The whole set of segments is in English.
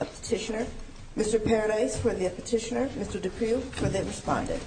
a petitioner. Mr. Paradise for the petitioner, Mr. Duprieu for the respondent. Mr. Paradise for the petitioner, Mr. Duprieu for the respondent.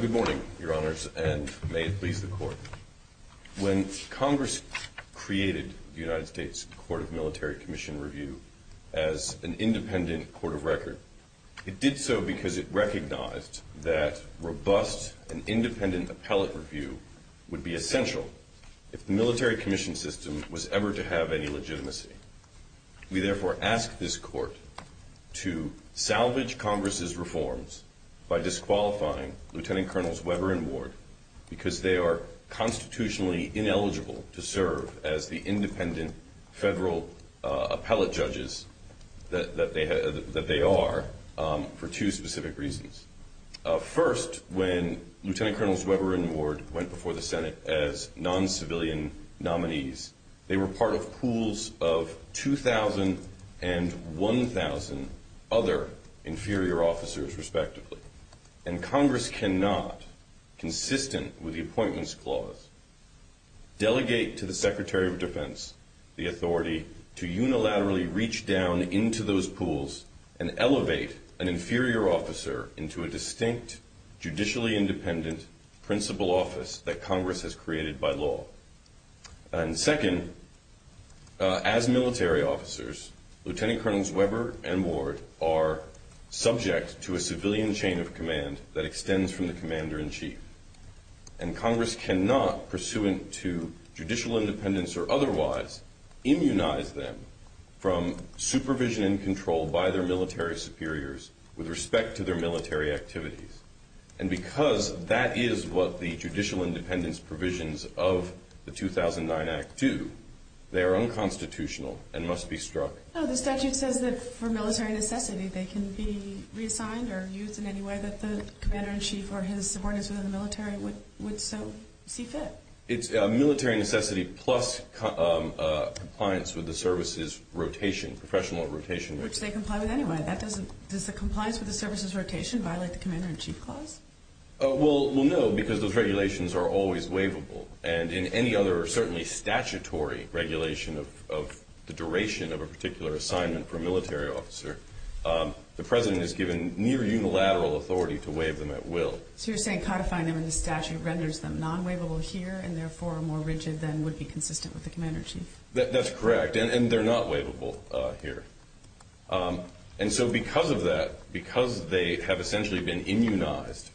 Good morning, Your Honors, and may it please the Court. When Congress created the United States Supreme Court, it did so because it recognized that robust and independent appellate review would be essential if the military commission system was ever to have any legitimacy. We therefore ask this Court to salvage Congress's reforms by disqualifying Lieutenant Colonels Weber and Ward because they are constitutionally ineligible to serve as the independent federal appellate judges that they are for two specific reasons. First, when Lieutenant Colonels Weber and Ward went before the Senate as non-civilian nominees, they were part of pools of 2,000 and 1,000 other inferior officers, respectively. And Congress cannot, consistent with the Appointments Clause, delegate to the Secretary of Defense the authority to unilaterally reach down into those pools and elevate an inferior officer into a distinct, judicially independent principal office that Congress has created by law. And second, as military officers, Lieutenant Colonels Weber and Ward are subject to a civilian chain of command that extends from the Commander-in-Chief. And Congress cannot, pursuant to judicial independence or otherwise, immunize them from supervision and control by their military superiors with respect to their military activities. And because that is what the judicial independence provisions of the 2009 Act do, they are unconstitutional and must be struck. No, the statute says that for military necessity, they can be reassigned or used in any way that the Commander-in-Chief or his subordinates within the military would so see fit. It's a military necessity plus compliance with the services rotation, professional rotation. Which they comply with anyway. Does the compliance with the services rotation violate the Commander-in-Chief Clause? Well, no, because those regulations are always waivable. And in any other, certainly statutory, regulation of the duration of a particular assignment for a military officer, the President is given near unilateral authority to waive them at will. So you're saying codifying them in the statute renders them non-waivable here and therefore more rigid than would be consistent with the Commander-in-Chief? That's correct. And they're not waivable here. And so because of that, because they have essentially been judges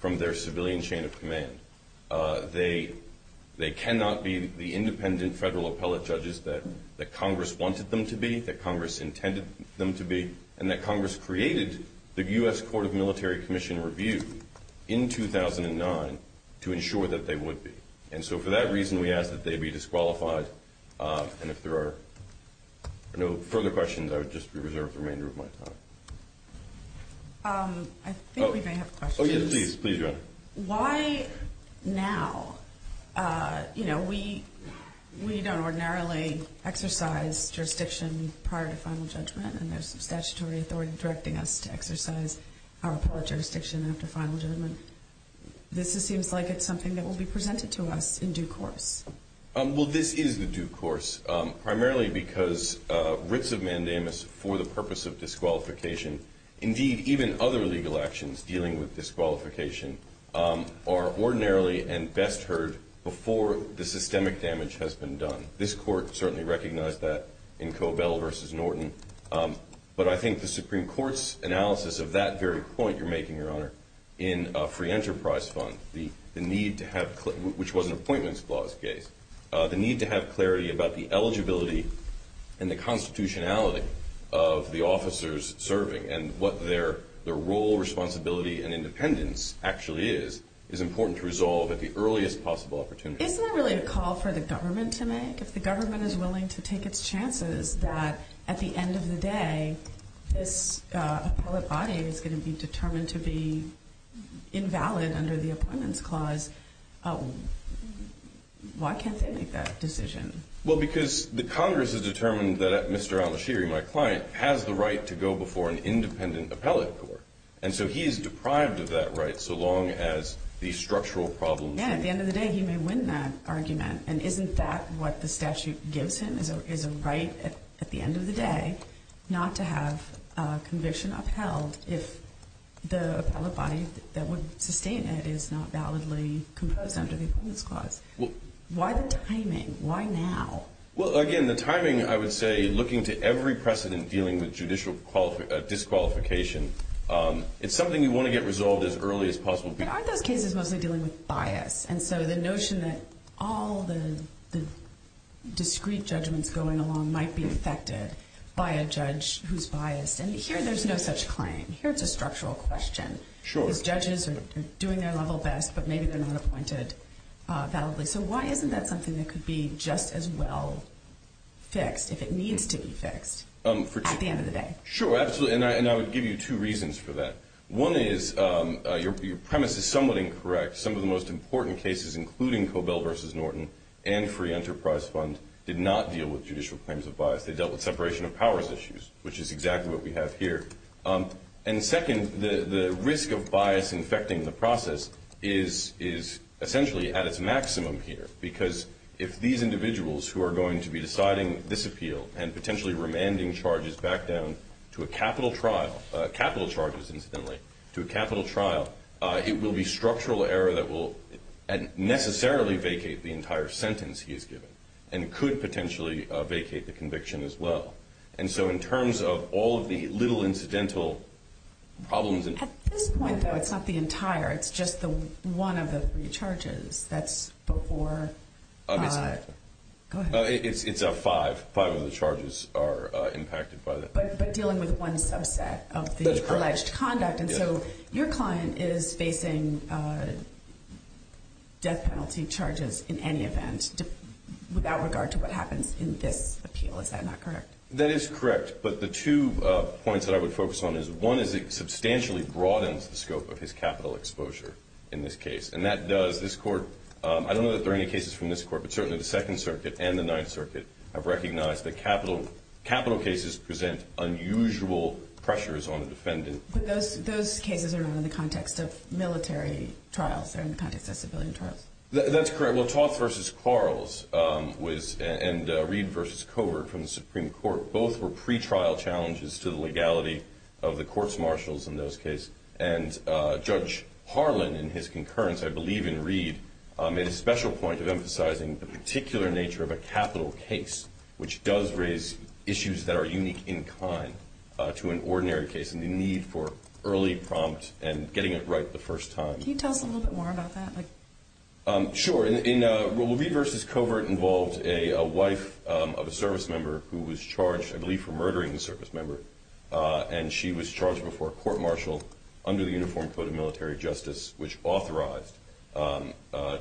that Congress wanted them to be, that Congress intended them to be, and that Congress created the U.S. Court of Military Commission Review in 2009 to ensure that they would be. And so for that reason, we ask that they be disqualified. And if there are no further questions, I would just reserve the remainder of my time. I think we may have questions. Oh, yes, please. Please, Your Honor. Why now? You know, we don't ordinarily exercise jurisdiction prior to final judgment, and there's some statutory authority directing us to exercise our appellate jurisdiction after final judgment. This seems like it's something that will be presented to us in due course. Well, this is the due course, primarily because writs of mandamus for the purpose of disqualification, indeed even other legal actions dealing with disqualification, are ordinarily and best heard before the systemic damage has been done. This Court certainly recognized that in Cobell v. Norton. But I think the Supreme Court's analysis of that very point you're making, Your Honor, in a free enterprise fund, which was an appointments clause case, the need to have responsibility and independence actually is, is important to resolve at the earliest possible opportunity. Isn't that really a call for the government to make? If the government is willing to take its chances that at the end of the day, this appellate body is going to be determined to be invalid under the appointments clause, why can't they make that decision? Well, because the Congress has determined that Mr. Al-Ashiri, my client, has the right to go before an independent appellate court. And so he is deprived of that right so long as the structural problems are resolved. Yeah. At the end of the day, he may win that argument. And isn't that what the statute gives him, is a right at the end of the day not to have a conviction upheld if the appellate body that would sustain it is not validly composed under the appointments clause? Why the timing? Why now? Well, again, the timing, I would say, looking to every precedent dealing with judicial disqualification, it's something we want to get resolved as early as possible. But aren't those cases mostly dealing with bias? And so the notion that all the discrete judgments going along might be affected by a judge who's biased. And here there's no such claim. Here it's a structural question. Sure. Those judges are doing their level best, but maybe they're not appointed validly. So why isn't that something that could be just as well fixed if it needs to be fixed at the end of the day? Sure, absolutely. And I would give you two reasons for that. One is your premise is somewhat incorrect. Some of the most important cases, including Cobell v. Norton and Free Enterprise Fund, did not deal with judicial claims of bias. They dealt with separation of process is essentially at its maximum here. Because if these individuals who are going to be deciding this appeal and potentially remanding charges back down to a capital trial, capital charges incidentally, to a capital trial, it will be structural error that will necessarily vacate the entire sentence he's given and could potentially vacate the conviction as well. And so in terms of all of the little incidental problems... At this point, though, it's not the entire. It's just one of the three charges that's before... It's five. Five of the charges are impacted by that. But dealing with one subset of the alleged conduct. And so your client is facing death penalty charges in any event without regard to what happens in this appeal. Is that not correct? That is correct. But the two points that I would focus on is one is it substantially broadens the scope of his capital exposure in this case. And that does... This Court... I don't know that there are any cases from this Court, but certainly the Second Circuit and the Ninth Circuit have recognized that capital cases present unusual pressures on a defendant. But those cases are not in the context of military trials. They're in the context of civilian trials. That's correct. Well, Toth v. Quarles and Reid v. Covert from the Supreme Court, both were pretrial challenges to the legality of the court's marshals in those cases. And Judge Harlan in his concurrence, I believe in Reid, made a special point of emphasizing the particular nature of a capital case, which does raise issues that are unique in kind to an ordinary case and the need for early prompt and getting it right the first time. Can you tell us a little bit more about that? Sure. In Reid v. Covert involved a wife of a servicemember who was charged, I believe, for murdering the servicemember. And she was charged before a court-martial under the Uniform Code of Military Justice, which authorized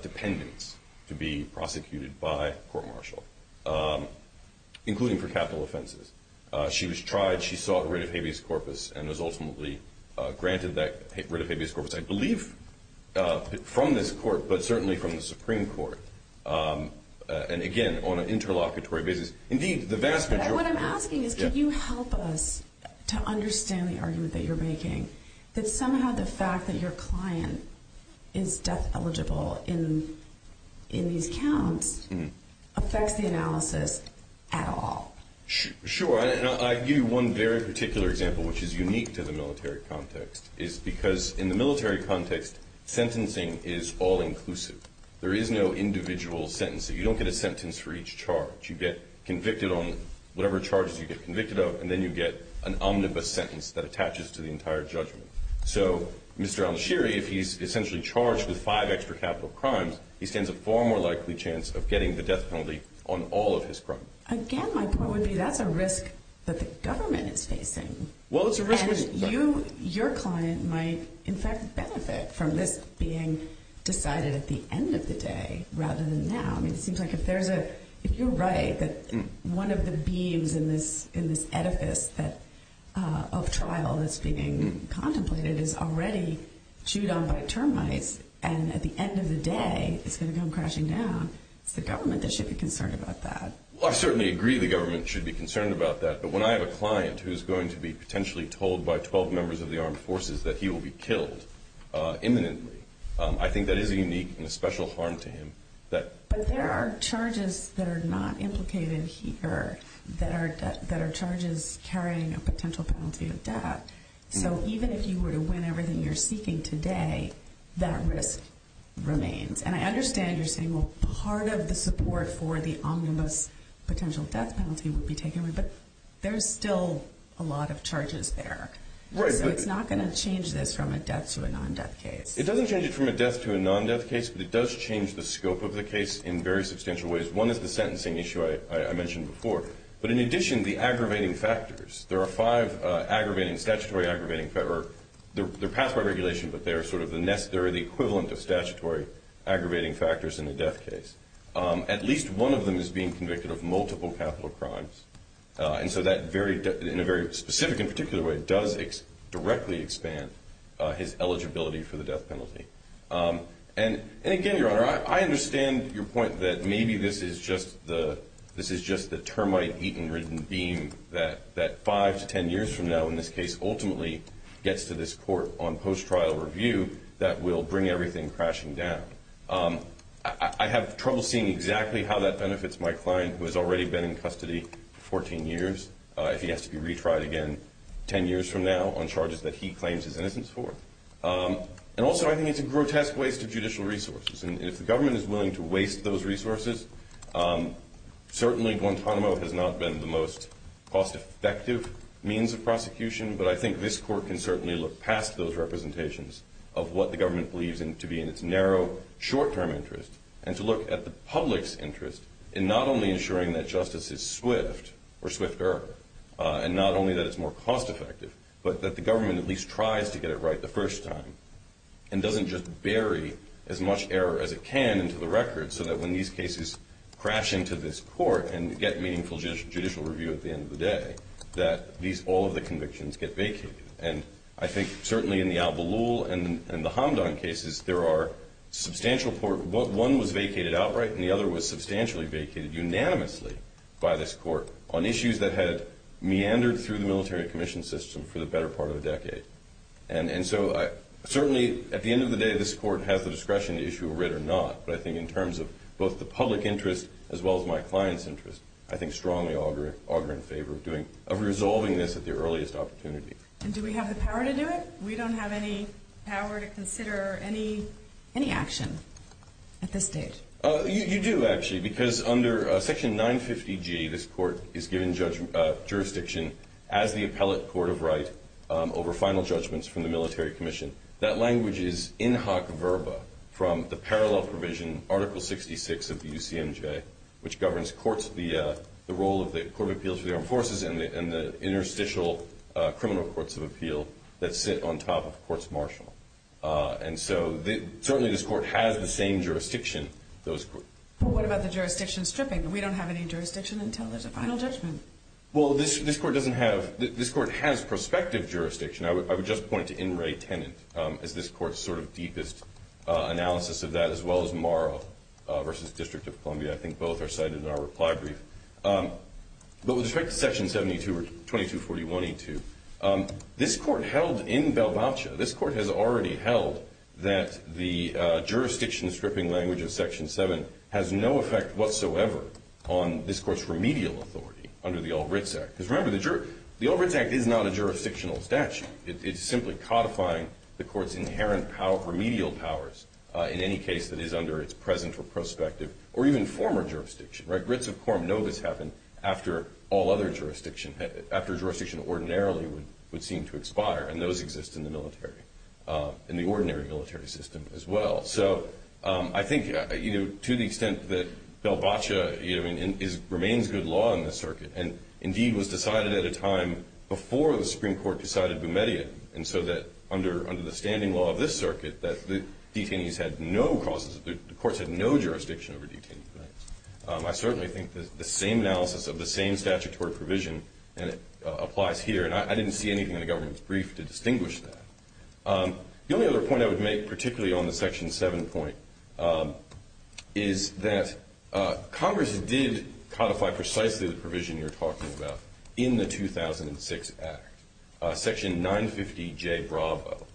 dependents to be prosecuted by court-martial, including for capital offenses. She was tried. She sought rid of habeas corpus and was ultimately granted that rid of habeas corpus. I believe from this court, but certainly from the Supreme Court, and again, on an interlocutory basis. Indeed, the vast majority... What I'm asking is, can you help us to understand the argument that you're making, that somehow the fact that your client is death eligible in these counts affects the analysis at all? Sure. And I'll give you one very particular example, which is unique to the military context, is because in the military context, sentencing is all-inclusive. There is no individual sentence. You don't get a sentence for each charge. You get convicted on whatever charges you get convicted of, and then you get an omnibus sentence that attaches to the entire judgment. So Mr. Al-Nashiri, if he's essentially charged with five extra capital crimes, he stands a far more likely chance of getting the death penalty on all of his crimes. Again, my point would be that's a risk that the government is facing. Well, it's a risk... And your client might, in fact, benefit from this being decided at the end of the day rather than now. I mean, it seems like if you're right that one of the beams in this edifice of trial that's being contemplated is already chewed on by termites and at the end of the day it's going to come crashing down. It's the government that should be concerned about that. Well, I certainly agree the government should be concerned about that, but when I have a client who is going to be potentially told by 12 members of the armed forces that he will be killed imminently, I think that is a unique and a special harm to him. But there are charges that are not implicated here that are charges carrying a potential penalty of death. So even if you were to win everything you're seeking today, that risk remains. And I understand you're saying, well, part of the support for the omnibus potential death penalty would be taken, but there's still a lot of charges there. So it's not going to change this from a death to a non-death case. It doesn't change it from a death to a non-death case, but it does change the scope of the case in very substantial ways. One is the sentencing issue I mentioned before. But in addition, the aggravating factors. There are five aggravating, statutory aggravating, or they're passed by regulation, but they're sort of the equivalent of statutory aggravating factors in a death case. At least one of them is being convicted of multiple capital crimes. And so that, in a very specific and particular way, does directly expand his eligibility for the death penalty. And again, Your Honor, I understand your point that maybe this is just the termite-eaten, ridden beam that five to ten years from now, in this case, ultimately gets to this court on post-trial review that will bring everything crashing down. I have trouble seeing exactly how that benefits my client, who has already been in custody for 14 years, if he has to be retried again ten years from now on charges that he claims his innocence for. And also, I think it's a grotesque waste of judicial resources. And if the government is willing to waste those resources, certainly Guantanamo has not been the most cost-effective means of prosecution. But I think this court can certainly look past those representations of what the government believes to be in its narrow, short-term interest, and to look at the public's interest in not only ensuring that justice is swift, or swifter, and not only that it's more cost-effective, but that the government at least tries to get it right the first time, and doesn't just bury as much error as it can into the record, so that when these cases crash into this court and get meaningful judicial review at the end of the day, that all of the convictions get vacated. And I think certainly in the Al-Balul and the Hamdan cases, there are substantial – one was vacated outright, and the other was substantially vacated unanimously by this court on issues that had meandered through the military commission system for the better part of a decade. And so certainly at the end of the day, this court has the discretion to issue a writ or not, but I think in terms of both the public interest as well as my client's interest, I think strongly augur in favor of doing – of resolving this at the earliest opportunity. And do we have the power to do it? We don't have any power to consider any action at this stage? You do, actually, because under Section 950G, this court is given jurisdiction as the appellate court of right over final judgments from the military commission. That language is in hoc verba from the parallel provision, Article 66 of the UCMJ, which governs courts, the role of the Court of Appeals for the Armed Forces and the interstitial criminal courts of appeal that sit on top of courts martial. And so certainly this court has the same jurisdiction. Well, what about the jurisdiction stripping? We don't have any jurisdiction until there's a final judgment. Well, this court doesn't have – this court has prospective jurisdiction. I would just point to In re Tenent as this court's sort of deepest analysis of that, as well as Morrow v. District of Columbia. I think both are cited in our reply brief. But with respect to Section 72 or 2241E2, this court held in Balboacha, this court has already held that the jurisdiction stripping language of Section 7 has no effect whatsoever on this court's remedial authority under the Ulbrichts Act. Because remember, the Ulbrichts Act is not a jurisdictional statute. It's simply codifying the court's inherent remedial powers in any case that is under its present or prospective or even former jurisdiction, right? Brits of Quorum know this happened after all other jurisdiction, after jurisdiction ordinarily would seem to expire. And those exist in the military, in the ordinary military system as well. So I think, you know, to the extent that Balboacha remains good law in this circuit and indeed was decided at a time before the Supreme Court decided Boumedia, and so that under the standing law of this circuit that the detainees had no causes – the courts had no jurisdiction over detainees, right? I certainly think the same analysis of the same statutory provision applies here. And I didn't see anything in the government's brief to distinguish that. The only other point I would make, particularly on the Section 7 point, is that Congress did codify precisely the provision you're talking about in the 2006 Act. Section 950J Bravo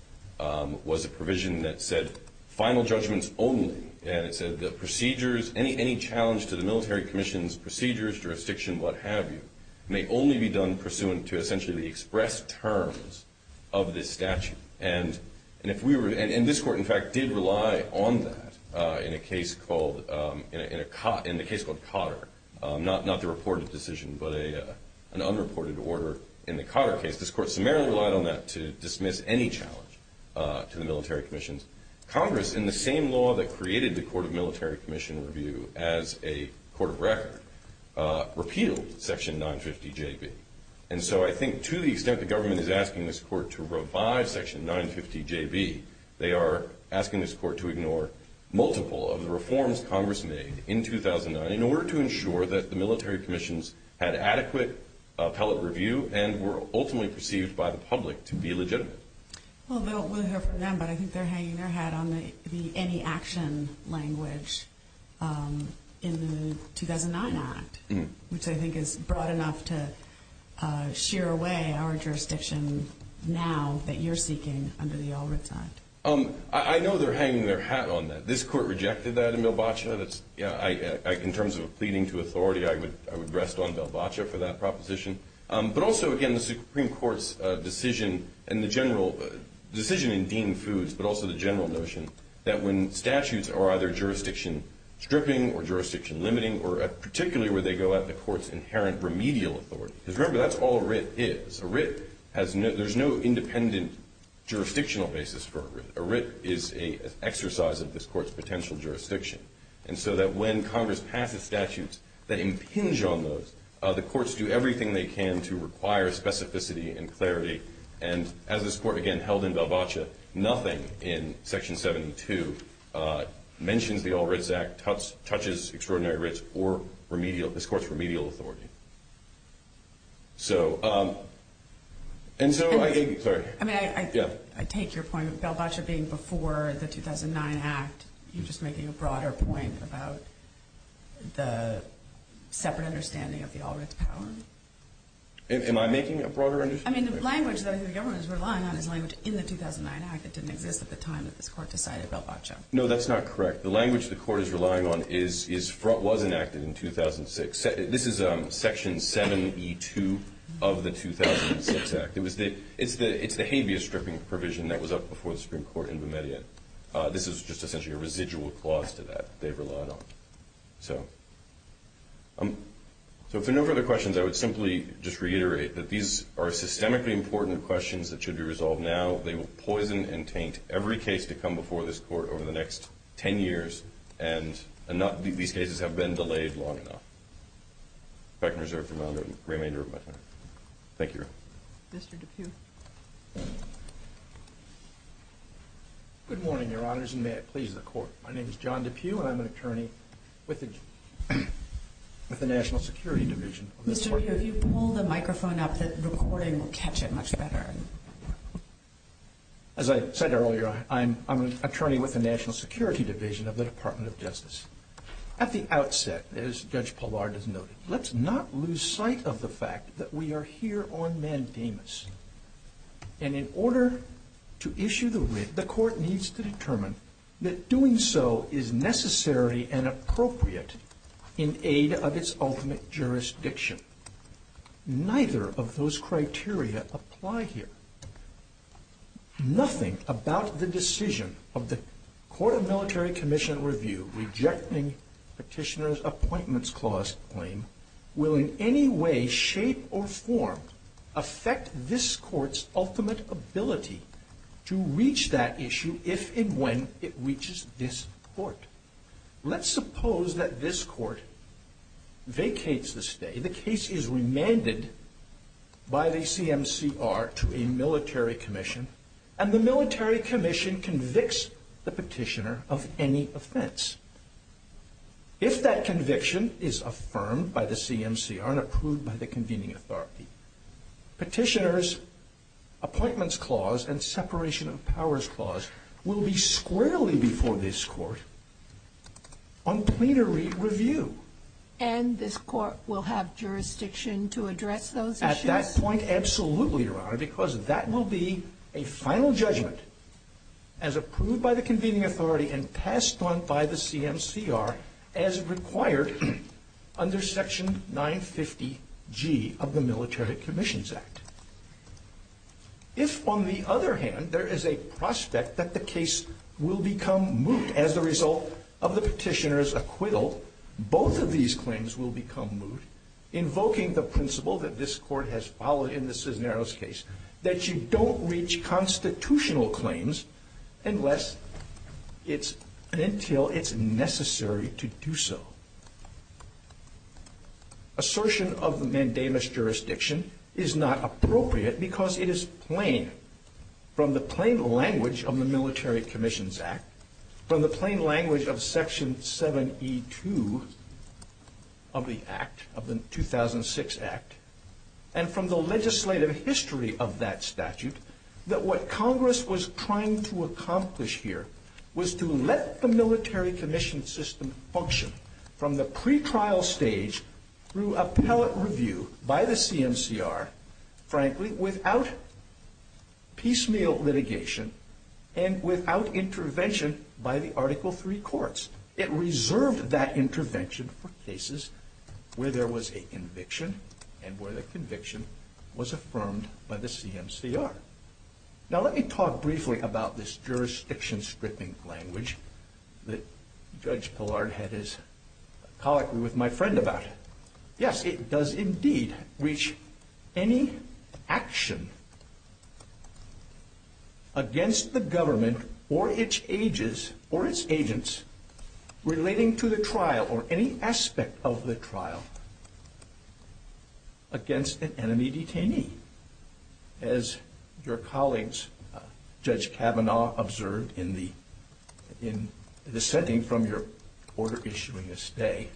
was a provision that said final judgments only. And it said the procedures, any challenge to the military commission's procedures, jurisdiction, what have you, may only be done pursuant to essentially the express terms of this statute. And this court, in fact, did rely on that in a case called Cotter, not the reported decision, but an unreported order in the Cotter case. This court summarily relied on that to dismiss any challenge to the military commissions. Congress, in the same law that created the Court of Military Commission Review as a court of record, repealed Section 950JB. And so I think to the extent the government is asking this court to revive Section 950JB, they are asking this court to ignore multiple of the reforms Congress made in 2009 in order to ensure that the military commissions had adequate appellate review and were ultimately perceived by the public to be legitimate. Well, we'll hear from them, but I think they're hanging their hat on the any action language in the 2009 Act, which I think is broad enough to shear away our jurisdiction now that you're seeking under the All Writs Act. I know they're hanging their hat on that. This court rejected that in Bilbao. In terms of a pleading to authority, I would rest on Bilbao for that proposition. But also, again, the Supreme Court's decision and the general decision in Dean Foods, but also the general notion that when statutes are either jurisdiction stripping or jurisdiction limiting, or particularly where they go at the court's inherent remedial authority, because remember, that's all a writ is. A writ has no ñ there's no independent jurisdictional basis for a writ. A writ is an exercise of this court's potential jurisdiction. And so that when Congress passes statutes that impinge on those, the courts do everything they can to require specificity and clarity. And as this court, again, held in Bilbao, nothing in Section 72 mentions the All Writs Act, touches extraordinary writs, or remedial ñ this court's remedial authority. So ñ and so I think ñ sorry. I mean, I take your point of Bilbao being before the 2009 Act. You're just making a broader point about the separate understanding of the All Writs power. Am I making a broader understanding? I mean, the language that the government is relying on is language in the 2009 Act that didn't exist at the time that this court decided Bilbao. No, that's not correct. The language the court is relying on is ñ was enacted in 2006. This is Section 72 of the 2006 Act. It was the ñ it's the habeas stripping provision that was up before the Supreme Court in Bermuda. This is just essentially a residual clause to that they've relied on. So for no further questions, I would simply just reiterate that these are systemically important questions that should be resolved now. They will poison and taint every case to come before this court over the next 10 years, and not these cases have been delayed long enough. If I can reserve the remainder of my time. Thank you. Mr. DePue. Good morning, Your Honors, and may it please the Court. My name is John DePue, and I'm an attorney with the National Security Division. Mr. DePue, if you pull the microphone up, the recording will catch it much better. As I said earlier, I'm an attorney with the National Security Division of the Department of Justice. At the outset, as Judge Pallard has noted, let's not lose sight of the fact that we are here on mandamus. And in order to issue the writ, the Court needs to determine that doing so is necessary and appropriate in aid of its ultimate jurisdiction. Neither of those criteria apply here. Nothing about the decision of the Court of Military Commission Review rejecting Petitioner's Appointments Clause claim will in any way, shape, or form affect this Court's ultimate ability to reach that issue if and when it reaches this Court. Let's suppose that this Court vacates the stay. The case is remanded by the CMCR to a military commission, and the military commission convicts the petitioner of any offense. If that conviction is affirmed by the CMCR and approved by the convening authority, Petitioner's Appointments Clause and Separation of Powers Clause will be squarely before this Court on plenary review. And this Court will have jurisdiction to address those issues? At that point, absolutely, Your Honor, because that will be a final judgment as approved by the convening authority and passed on by the CMCR as required under Section 950G of the Military Commissions Act. If, on the other hand, there is a prospect that the case will become moot as a result of the petitioner's acquittal, both of these claims will become moot, invoking the principle that this Court has followed in the Cisneros case, that you don't reach constitutional claims until it's necessary to do so. Assertion of mandamus jurisdiction is not appropriate because it is plain, from the plain language of the Military Commissions Act, from the plain language of Section 7E2 of the 2006 Act, and from the legislative history of that statute, that what Congress was trying to accomplish here was to let the military commission system function from the pretrial stage through appellate review by the CMCR, frankly, without piecemeal litigation and without intervention by the Article III courts. It reserved that intervention for cases where there was a conviction and where the conviction was affirmed by the CMCR. Now, let me talk briefly about this jurisdiction-stripping language that Judge Pillard had his colloquy with my friend about. Yes, it does indeed reach any action against the government or its agents relating to the trial, or any aspect of the trial, against an enemy detainee. As your colleagues, Judge Kavanaugh, observed in dissenting from your order issuing this day,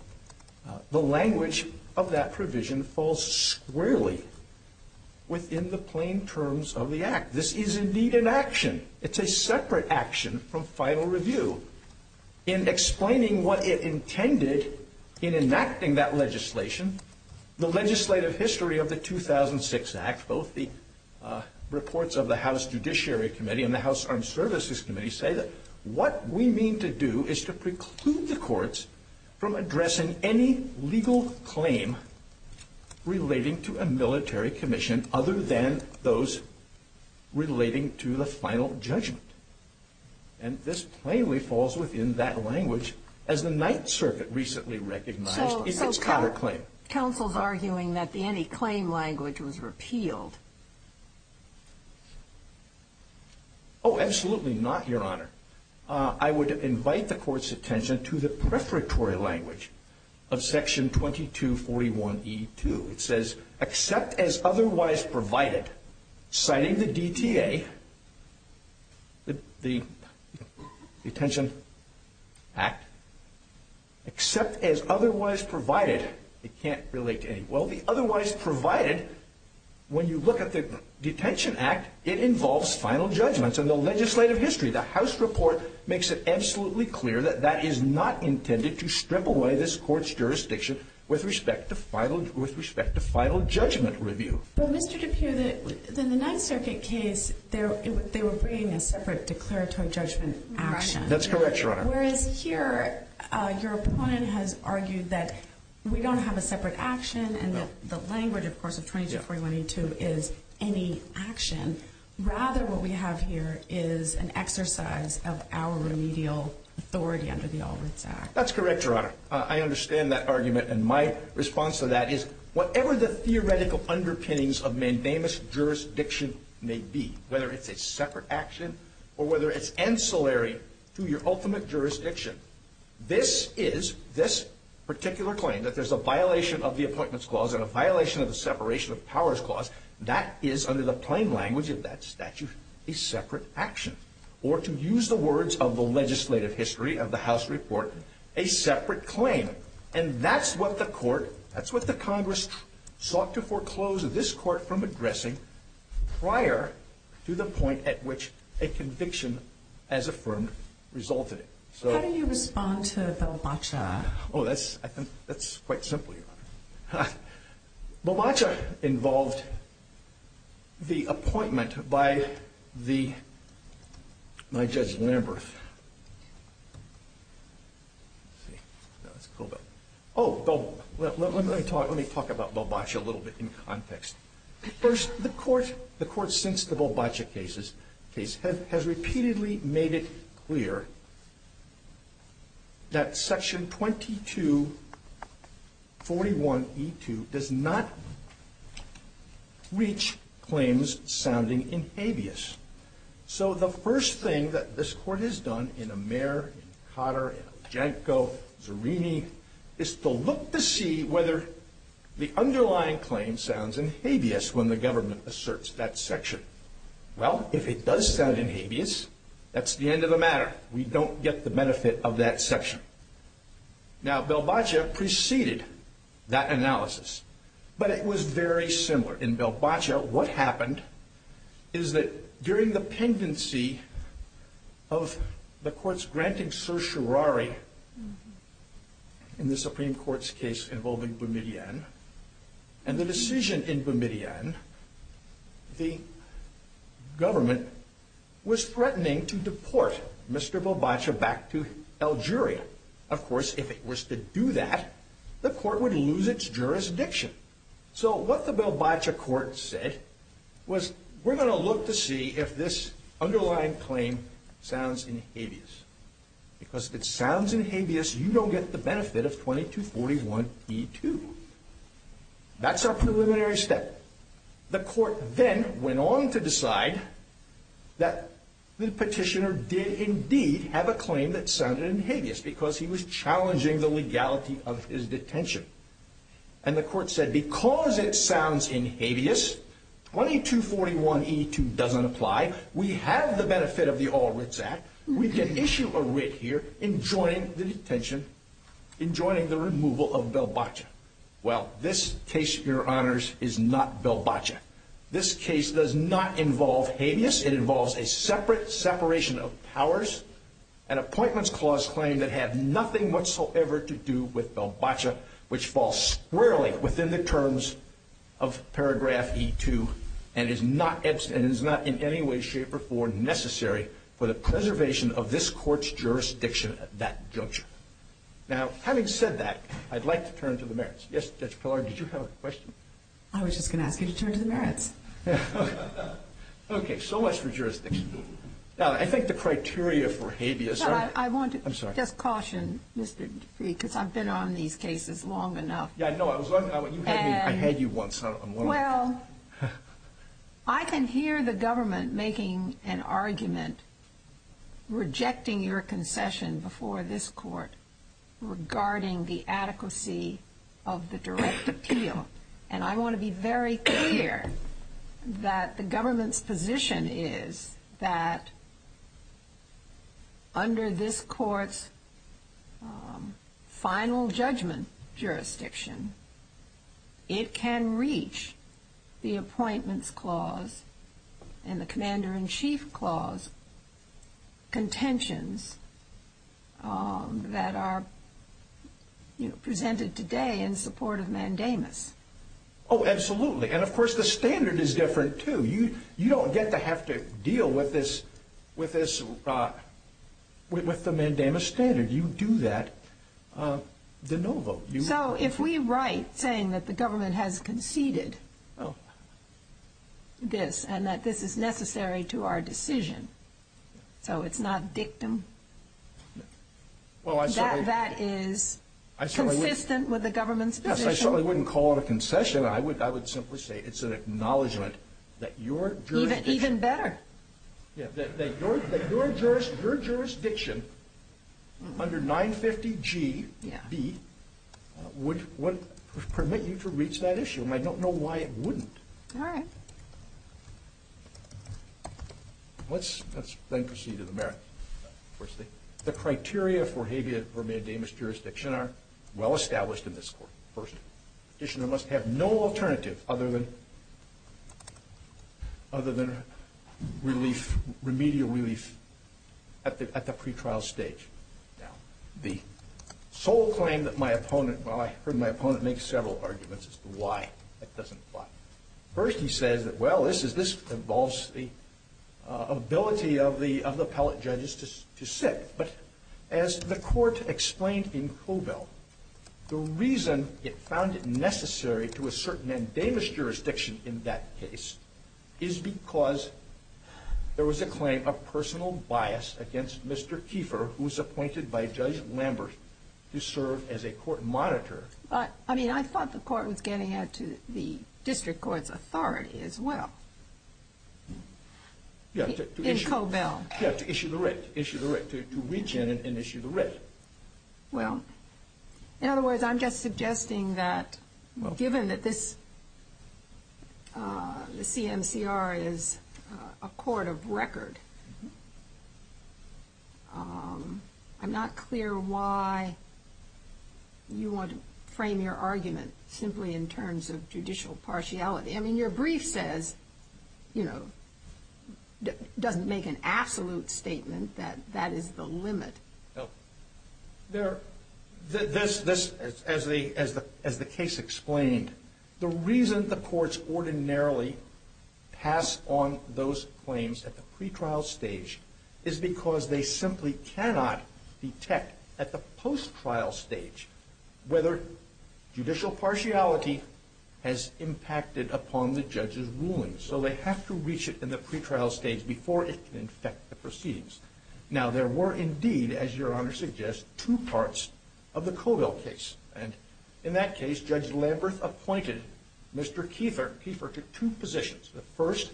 the language of that provision falls squarely within the plain terms of the Act. This is indeed an action. It's a separate action from final review. In explaining what it intended in enacting that legislation, the legislative history of the 2006 Act, both the reports of the House Judiciary Committee and the House Armed Services Committee, say that what we mean to do is to preclude the courts from addressing any legal claim relating to a military commission other than those relating to the final judgment. And this plainly falls within that language as the Ninth Circuit recently recognized its counterclaim. So counsel's arguing that the anti-claim language was repealed. Oh, absolutely not, Your Honor. I would invite the Court's attention to the prefatory language of Section 2241E2. It says, except as otherwise provided, citing the DTA, the Detention Act, except as otherwise provided, it can't relate to anything. Well, the otherwise provided, when you look at the Detention Act, it involves final judgments. In the legislative history, the House report makes it absolutely clear that that is not intended to strip away this Court's jurisdiction with respect to final judgment review. But, Mr. Dupuy, in the Ninth Circuit case, they were bringing a separate declaratory judgment action. That's correct, Your Honor. Whereas here, your opponent has argued that we don't have a separate action, and that the language, of course, of 2241E2 is any action. Rather, what we have here is an exercise of our remedial authority under the All Rights Act. That's correct, Your Honor. I understand that argument, and my response to that is, whatever the theoretical underpinnings of mandamus jurisdiction may be, whether it's a separate action or whether it's ancillary to your ultimate jurisdiction, this is, this particular claim, that there's a violation of the Appointments Clause and a violation of the Separation of Powers Clause, that is, under the plain language of that statute, a separate action. Or, to use the words of the legislative history of the House report, a separate claim. And that's what the Court, that's what the Congress, sought to foreclose this Court from addressing prior to the point at which a conviction as affirmed resulted in. How do you respond to Bobaca? Oh, that's, I think, that's quite simple, Your Honor. Bobaca involved the appointment by the, by Judge Lamberth. Oh, let me talk about Bobaca a little bit in context. First, the Court, the Court since the Bobaca case, has repeatedly made it clear that Section 2241E2 does not reach claims sounding in habeas. So the first thing that this Court has done in Amer, in Cotter, in Ajanko, Zerini, is to look to see whether the underlying claim sounds in habeas when the government asserts that section. Well, if it does sound in habeas, that's the end of the matter. We don't get the benefit of that section. Now, Bobaca preceded that analysis. But it was very similar. In Bobaca, what happened is that during the pendency of the Court's granting certiorari in the Supreme Court's case involving Boumediene, and the decision in Boumediene, the government was threatening to deport Mr. Bobaca back to Algeria. Of course, if it was to do that, the Court would lose its jurisdiction. So what the Bobaca Court said was, we're going to look to see if this underlying claim sounds in habeas. Because if it sounds in habeas, you don't get the benefit of 2241E2. That's our preliminary step. The Court then went on to decide that the petitioner did indeed have a claim that sounded in habeas because he was challenging the legality of his detention. And the Court said, because it sounds in habeas, 2241E2 doesn't apply. We have the benefit of the All Writs Act. We can issue a writ here enjoining the detention, enjoining the removal of Bobaca. Well, this case, Your Honors, is not Bobaca. This case does not involve habeas. It involves a separate separation of powers, an Appointments Clause claim that had nothing whatsoever to do with Bobaca, which falls squarely within the terms of paragraph E2 and is not in any way, shape, or form necessary for the preservation of this Court's jurisdiction at that juncture. Now, having said that, I'd like to turn to the merits. Yes, Judge Pillard, did you have a question? I was just going to ask you to turn to the merits. Okay. So much for jurisdiction. Now, I think the criteria for habeas. I want to just caution Mr. Dupree, because I've been on these cases long enough. Yeah, I know. I had you once. Well, I can hear the government making an argument rejecting your concession before this Court regarding the adequacy of the direct appeal, and I want to be very clear that the government's position is that under this Court's final judgment jurisdiction, it can reach the Appointments Clause and the Commander-in-Chief Clause contentions that are presented today in support of mandamus. Oh, absolutely. And, of course, the standard is different, too. You don't get to have to deal with the mandamus standard. You do that de novo. So if we write saying that the government has conceded this and that this is necessary to our decision, so it's not dictum, that is consistent with the government's position? Yes, I certainly wouldn't call it a concession. I would simply say it's an acknowledgment that your jurisdiction under 950 G.B. would permit you to reach that issue, and I don't know why it wouldn't. All right. Let's then proceed to the merits. The criteria for habeas or mandamus jurisdiction are well established in this Court. First, petitioner must have no alternative other than relief, remedial relief at the pretrial stage. Now, the sole claim that my opponent, well, I heard my opponent make several arguments as to why that doesn't apply. First, he says that, well, this involves the ability of the appellate judges to sit. But as the Court explained in Cobell, the reason it found it necessary to assert mandamus jurisdiction in that case is because there was a claim of personal bias against Mr. Kieffer, who was appointed by Judge Lambert to serve as a court monitor. But, I mean, I thought the Court was getting at the district court's authority as well. In Cobell. Yeah, to issue the writ, issue the writ, to reach in and issue the writ. Well, in other words, I'm just suggesting that given that this CMCR is a court of record, I'm not clear why you want to frame your argument simply in terms of judicial partiality. I mean, your brief says, you know, doesn't make an absolute statement that that is the limit. This, as the case explained, the reason the courts ordinarily pass on those claims at the pretrial stage is because they simply cannot detect at the post-trial stage whether judicial partiality has impacted upon the judge's ruling. So they have to reach it in the pretrial stage before it can affect the proceedings. Now, there were indeed, as your Honor suggests, two parts of the Cobell case. And in that case, Judge Lambert appointed Mr. Kieffer to two positions. The first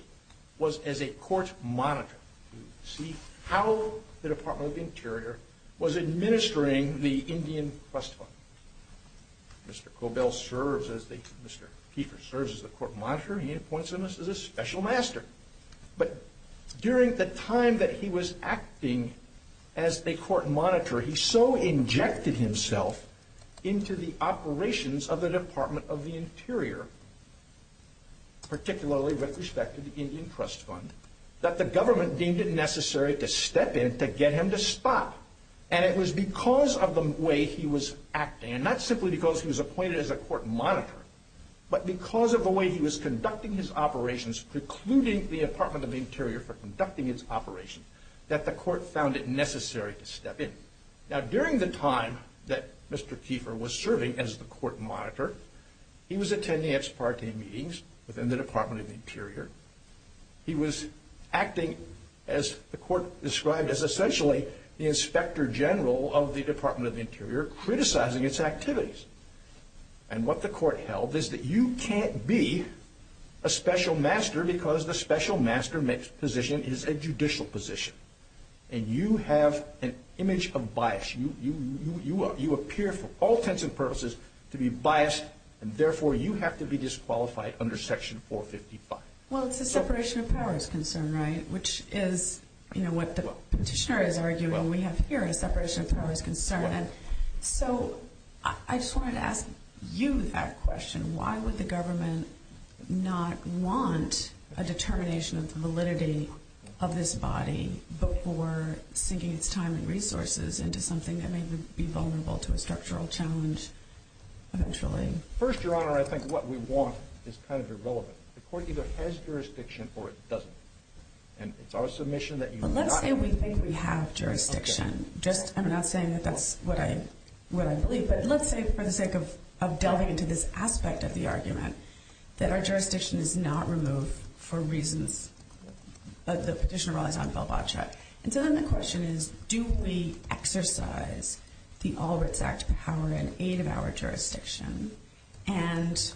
was as a court monitor to see how the Department of the Interior was Mr. Cobell serves as the court monitor. He appoints him as a special master. But during the time that he was acting as a court monitor, he so injected himself into the operations of the Department of the Interior, particularly with respect to the Indian Trust Fund, that the government deemed it necessary to step in to get him to stop. And it was because of the way he was acting, and not simply because he was appointed as a court monitor, but because of the way he was conducting his operations, precluding the Department of the Interior from conducting its operations, that the court found it necessary to step in. Now, during the time that Mr. Kieffer was serving as the court monitor, he was acting, as the court described, as essentially the inspector general of the Department of the Interior, criticizing its activities. And what the court held is that you can't be a special master because the special master position is a judicial position. And you have an image of bias. You appear, for all intents and purposes, to be biased, and therefore you have to be disqualified under Section 455. Well, it's a separation of powers concern, right? Which is what the petitioner is arguing. We have here a separation of powers concern. So I just wanted to ask you that question. Why would the government not want a determination of the validity of this body before sinking its time and resources into something that may be vulnerable to a structural challenge eventually? First, Your Honor, I think what we want is kind of irrelevant. The court either has jurisdiction or it doesn't. And it's our submission that you want it. Well, let's say we think we have jurisdiction. I'm not saying that that's what I believe. But let's say, for the sake of delving into this aspect of the argument, that our jurisdiction is not removed for reasons that the petitioner relies on, Bill Botchett. And so then the question is, do we exercise the All Rights Act power under an eight-hour jurisdiction? And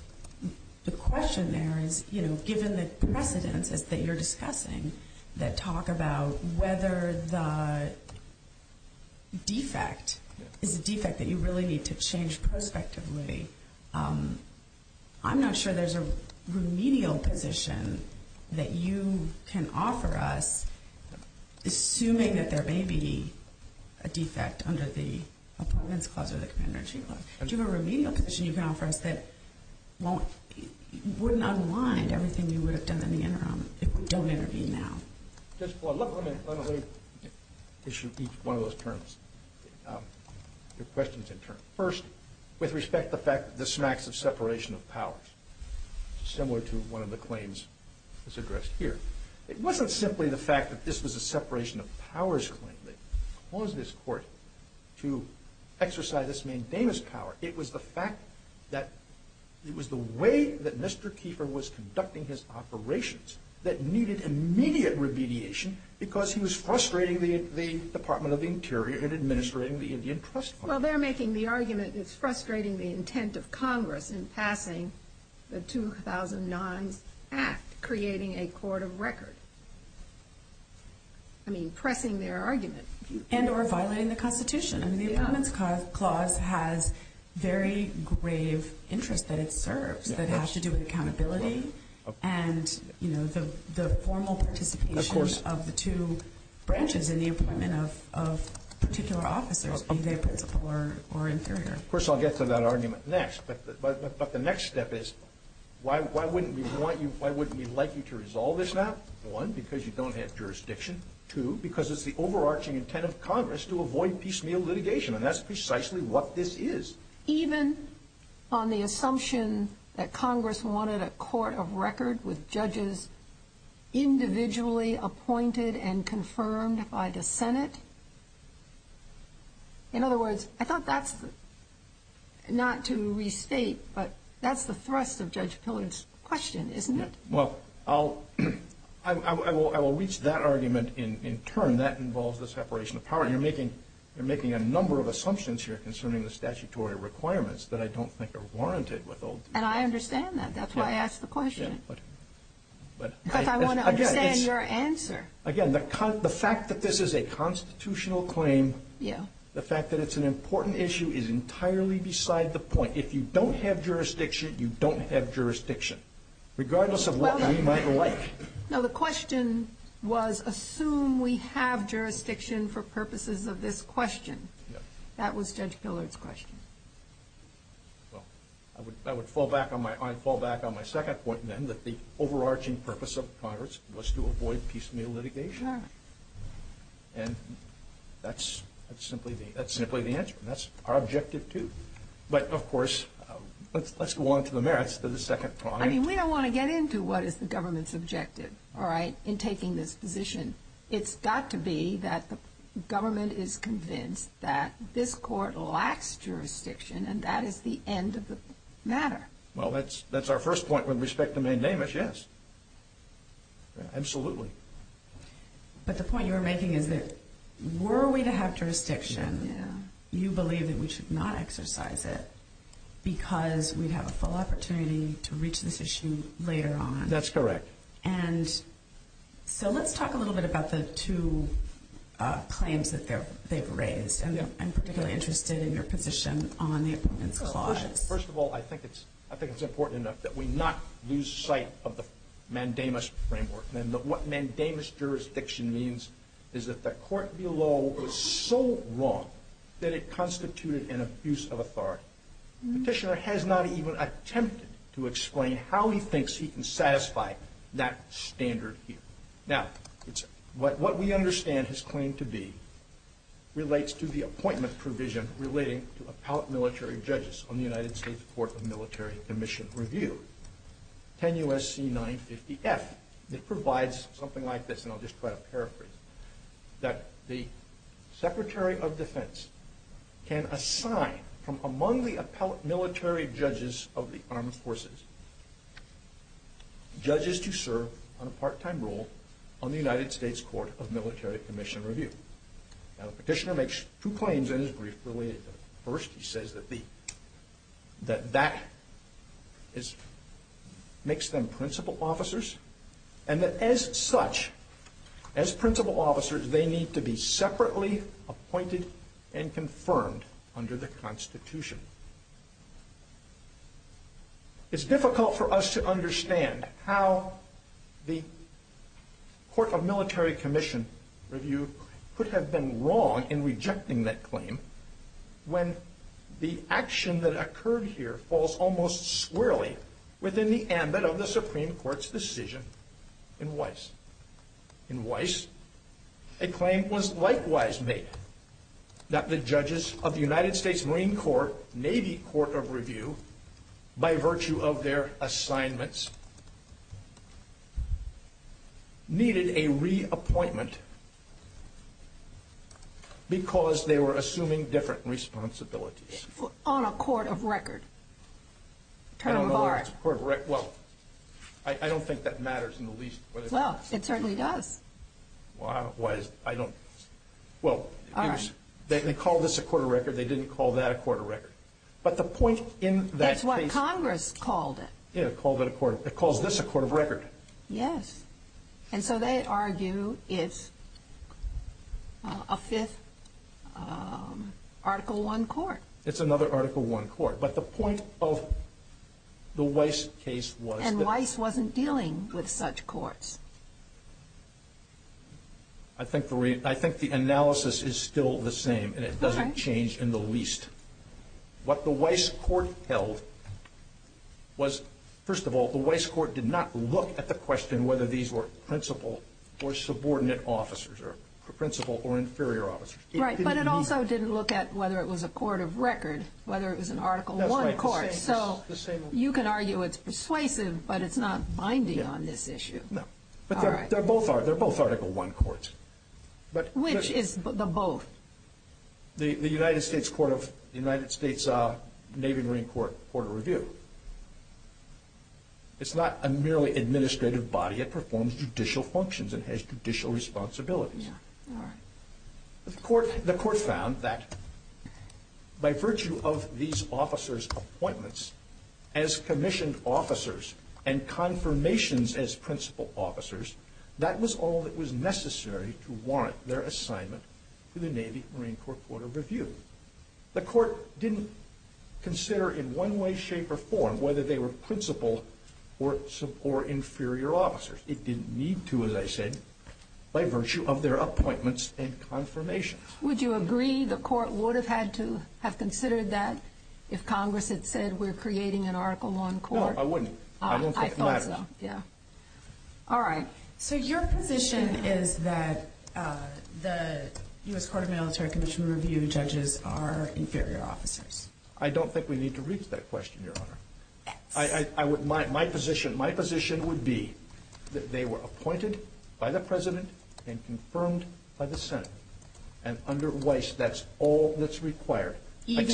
the question there is, you know, given the precedence that you're discussing that talk about whether the defect is a defect that you really need to change prospectively, I'm not sure there's a remedial position that you can offer us, assuming that there may be a defect under the Appointments Clause or the Commander-in-Chief Clause. Do you have a remedial position you can offer us that wouldn't unwind everything you would have done in the interim if we don't intervene now? Let me issue each one of those terms. There are questions in terms. First, with respect to the fact that this smacks of separation of powers, similar to one of the claims that's addressed here. It wasn't simply the fact that this was a separation of powers claim that caused this Court to exercise this main damus power. It was the fact that it was the way that Mr. Kiefer was conducting his operations that needed immediate remediation because he was frustrating the Department of the Interior in administrating the Indian Trust Fund. Well, they're making the argument it's frustrating the intent of Congress in passing the 2009 Act, creating a court of record. I mean, pressing their argument. And or violating the Constitution. I mean, the Appointments Clause has very grave interests that it serves that have to do with accountability and, you know, the formal participation of the two branches in the appointment of particular officers, be they principal or inferior. Of course, I'll get to that argument next. But the next step is, why wouldn't we want you, why wouldn't we like you to resolve this now? One, because you don't have jurisdiction. Two, because it's the overarching intent of Congress to avoid piecemeal litigation. And that's precisely what this is. Even on the assumption that Congress wanted a court of record with judges individually appointed and confirmed by the Senate? In other words, I thought that's not to restate, but that's the thrust of Judge Pillard's question, isn't it? Well, I will reach that argument in turn. That involves the separation of power. You're making a number of assumptions here concerning the statutory requirements that I don't think are warranted with all due respect. And I understand that. That's why I asked the question. Because I want to understand your answer. Again, the fact that this is a constitutional claim, the fact that it's an important issue is entirely beside the point. If you don't have jurisdiction, you don't have jurisdiction. Regardless of what we might like. No, the question was, assume we have jurisdiction for purposes of this question. That was Judge Pillard's question. Well, I would fall back on my second point then, that the overarching purpose of Congress was to avoid piecemeal litigation. And that's simply the answer. And that's our objective, too. But, of course, let's go on to the merits of the second point. I mean, we don't want to get into what is the government's objective, all right, in taking this position. It's got to be that the government is convinced that this court lacks jurisdiction and that is the end of the matter. Well, that's our first point with respect to Maine Damage, yes. Absolutely. But the point you were making is that were we to have jurisdiction, you believe that we should not exercise it because we'd have a full opportunity to reach this issue later on. That's correct. And so let's talk a little bit about the two claims that they've raised. I'm particularly interested in your position on the appointments clause. First of all, I think it's important enough that we not lose sight of the Mandamus framework. And what Mandamus jurisdiction means is that the court below was so wrong that it constituted an abuse of authority. Petitioner has not even attempted to explain how he thinks he can satisfy that standard here. Now, what we understand his claim to be relates to the appointment provision relating to appellate military judges on the United States Court of Military Commission Review, 10 U.S.C. 950-F. It provides something like this, and I'll just try to paraphrase, that the Secretary of Defense can assign from among the appellate military judges of the Armed Forces judges to serve on a part-time role on the United States Court of Military Commission Review. Now, the petitioner makes two claims in his brief related to that. First, he says that that makes them principal officers, and that as such, as principal officers, they need to be separately appointed and confirmed under the Constitution. It's difficult for us to understand how the Court of Military Commission Review could have been wrong in rejecting that claim when the action that occurred here falls almost squarely within the ambit of the Supreme Court's decision in Weiss. In Weiss, a claim was likewise made that the judges of the United States Marine Court, Navy Court of Review, by virtue of their assignments, needed a reappointment because they were assuming different responsibilities. On a court of record? Well, I don't think that matters in the least. Well, it certainly does. Well, they called this a court of record. They didn't call that a court of record. That's what Congress called it. It calls this a court of record. Yes, and so they argue it's a fifth Article I court. It's another Article I court, but the point of the Weiss case was that... And Weiss wasn't dealing with such courts. I think the analysis is still the same, and it doesn't change in the least. What the Weiss court held was, first of all, the Weiss court did not look at the question whether these were principal or subordinate officers, or principal or inferior officers. Right, but it also didn't look at whether it was a court of record, whether it was an Article I court. So you can argue it's persuasive, but it's not binding on this issue. No, but they're both Article I courts. Which is the both? The United States Navy and Marine Court of Review. It's not a merely administrative body. It performs judicial functions. It has judicial responsibilities. The court found that by virtue of these officers' appointments as commissioned officers and confirmations as principal officers, that was all that was necessary to warrant their assignment to the Navy and Marine Court of Review. The court didn't consider in one way, shape, or form whether they were principal or inferior officers. It didn't need to, as I said, by virtue of their appointments and confirmations. Would you agree the court would have had to have considered that if Congress had said we're creating an Article I court? No, I wouldn't. I don't think it matters. I thought so, yeah. All right. So your position is that the U.S. Court of Military Commission Review judges are inferior officers. I don't think we need to reach that question, Your Honor. My position would be that they were appointed by the President and confirmed by the Senate. And under Weiss, that's all that's required. But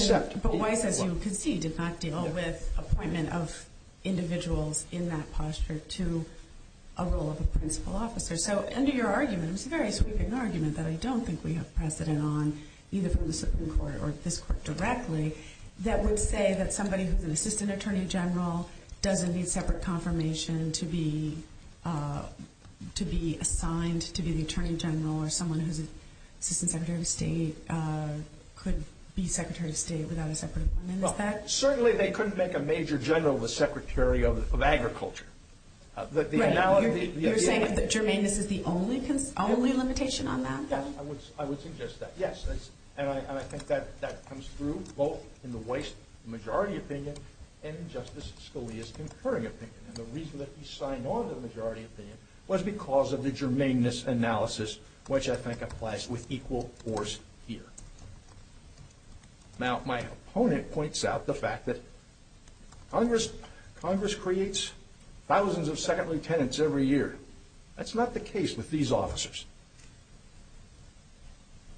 Weiss, as you can see, did not deal with appointment of individuals in that posture to a role of a principal officer. So under your argument, it's a very sweeping argument that I don't think we have precedent on, either from the Supreme Court or this court directly, that would say that somebody who's an assistant attorney general doesn't need separate confirmation to be assigned to be the attorney general or someone who's assistant secretary of state could be secretary of state without a separate appointment. Well, certainly they couldn't make a major general the secretary of agriculture. You're saying that germane is the only limitation on that? Yes, I would suggest that, yes. And I think that comes through both in the Weiss majority opinion and in Justice Scalia's concurring opinion. And the reason that he signed on to the majority opinion was because of the germaneness analysis, which I think applies with equal force here. Now, my opponent points out the fact that Congress creates thousands of second lieutenants every year. That's not the case with these officers.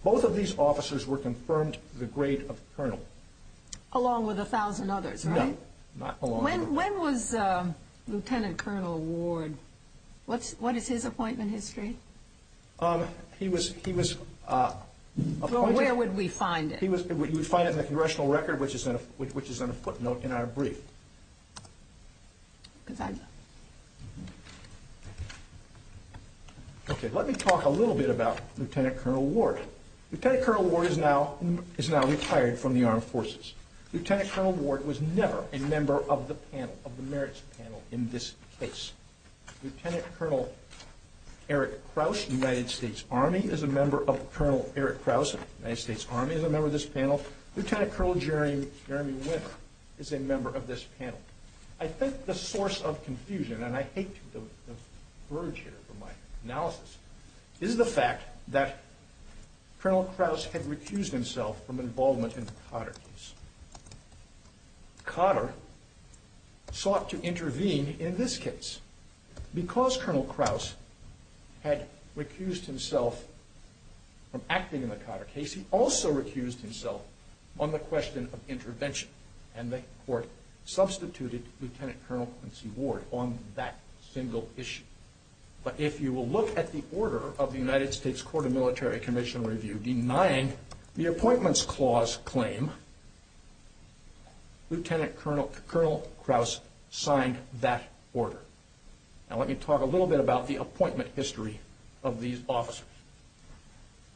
Both of these officers were confirmed to the grade of colonel. Along with a thousand others, right? No, not along with them. When was Lieutenant Colonel Ward, what is his appointment history? He was appointed... Where would we find it? You would find it in the congressional record, which is on a footnote in our brief. Okay, let me talk a little bit about Lieutenant Colonel Ward. Lieutenant Colonel Ward is now retired from the armed forces. Lieutenant Colonel Ward was never a member of the merits panel in this case. Lieutenant Colonel Eric Krause, United States Army, is a member of this panel. Lieutenant Colonel Jeremy Winter is a member of this panel. I think the source of confusion, and I hate to verge here from my analysis, is the fact that Colonel Krause had recused himself from involvement in the Cotter case. Cotter sought to intervene in this case. Because Colonel Krause had recused himself from acting in the Cotter case, he also recused himself on the question of intervention, and the court substituted Lieutenant Colonel Quincy Ward on that single issue. But if you will look at the order of the United States Court of Military Conventional Review denying the appointments clause claim, Lieutenant Colonel Krause signed that order. Now let me talk a little bit about the appointment history of these officers.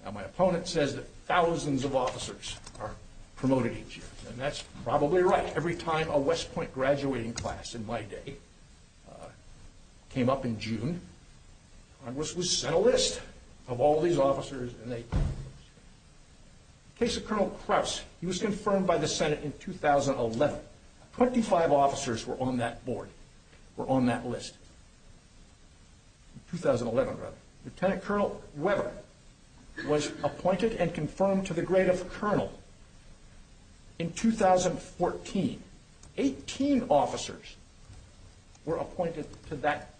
Now my opponent says that thousands of officers are promoted each year, and that's probably right. Every time a West Point graduating class in my day came up in June, Congress would send a list of all these officers. In the case of Colonel Krause, he was confirmed by the Senate in 2011. Twenty-five officers were on that board, were on that list. In 2011, rather. Lieutenant Colonel Weber was appointed and confirmed to the grade of colonel in 2014. Eighteen officers were appointed to that,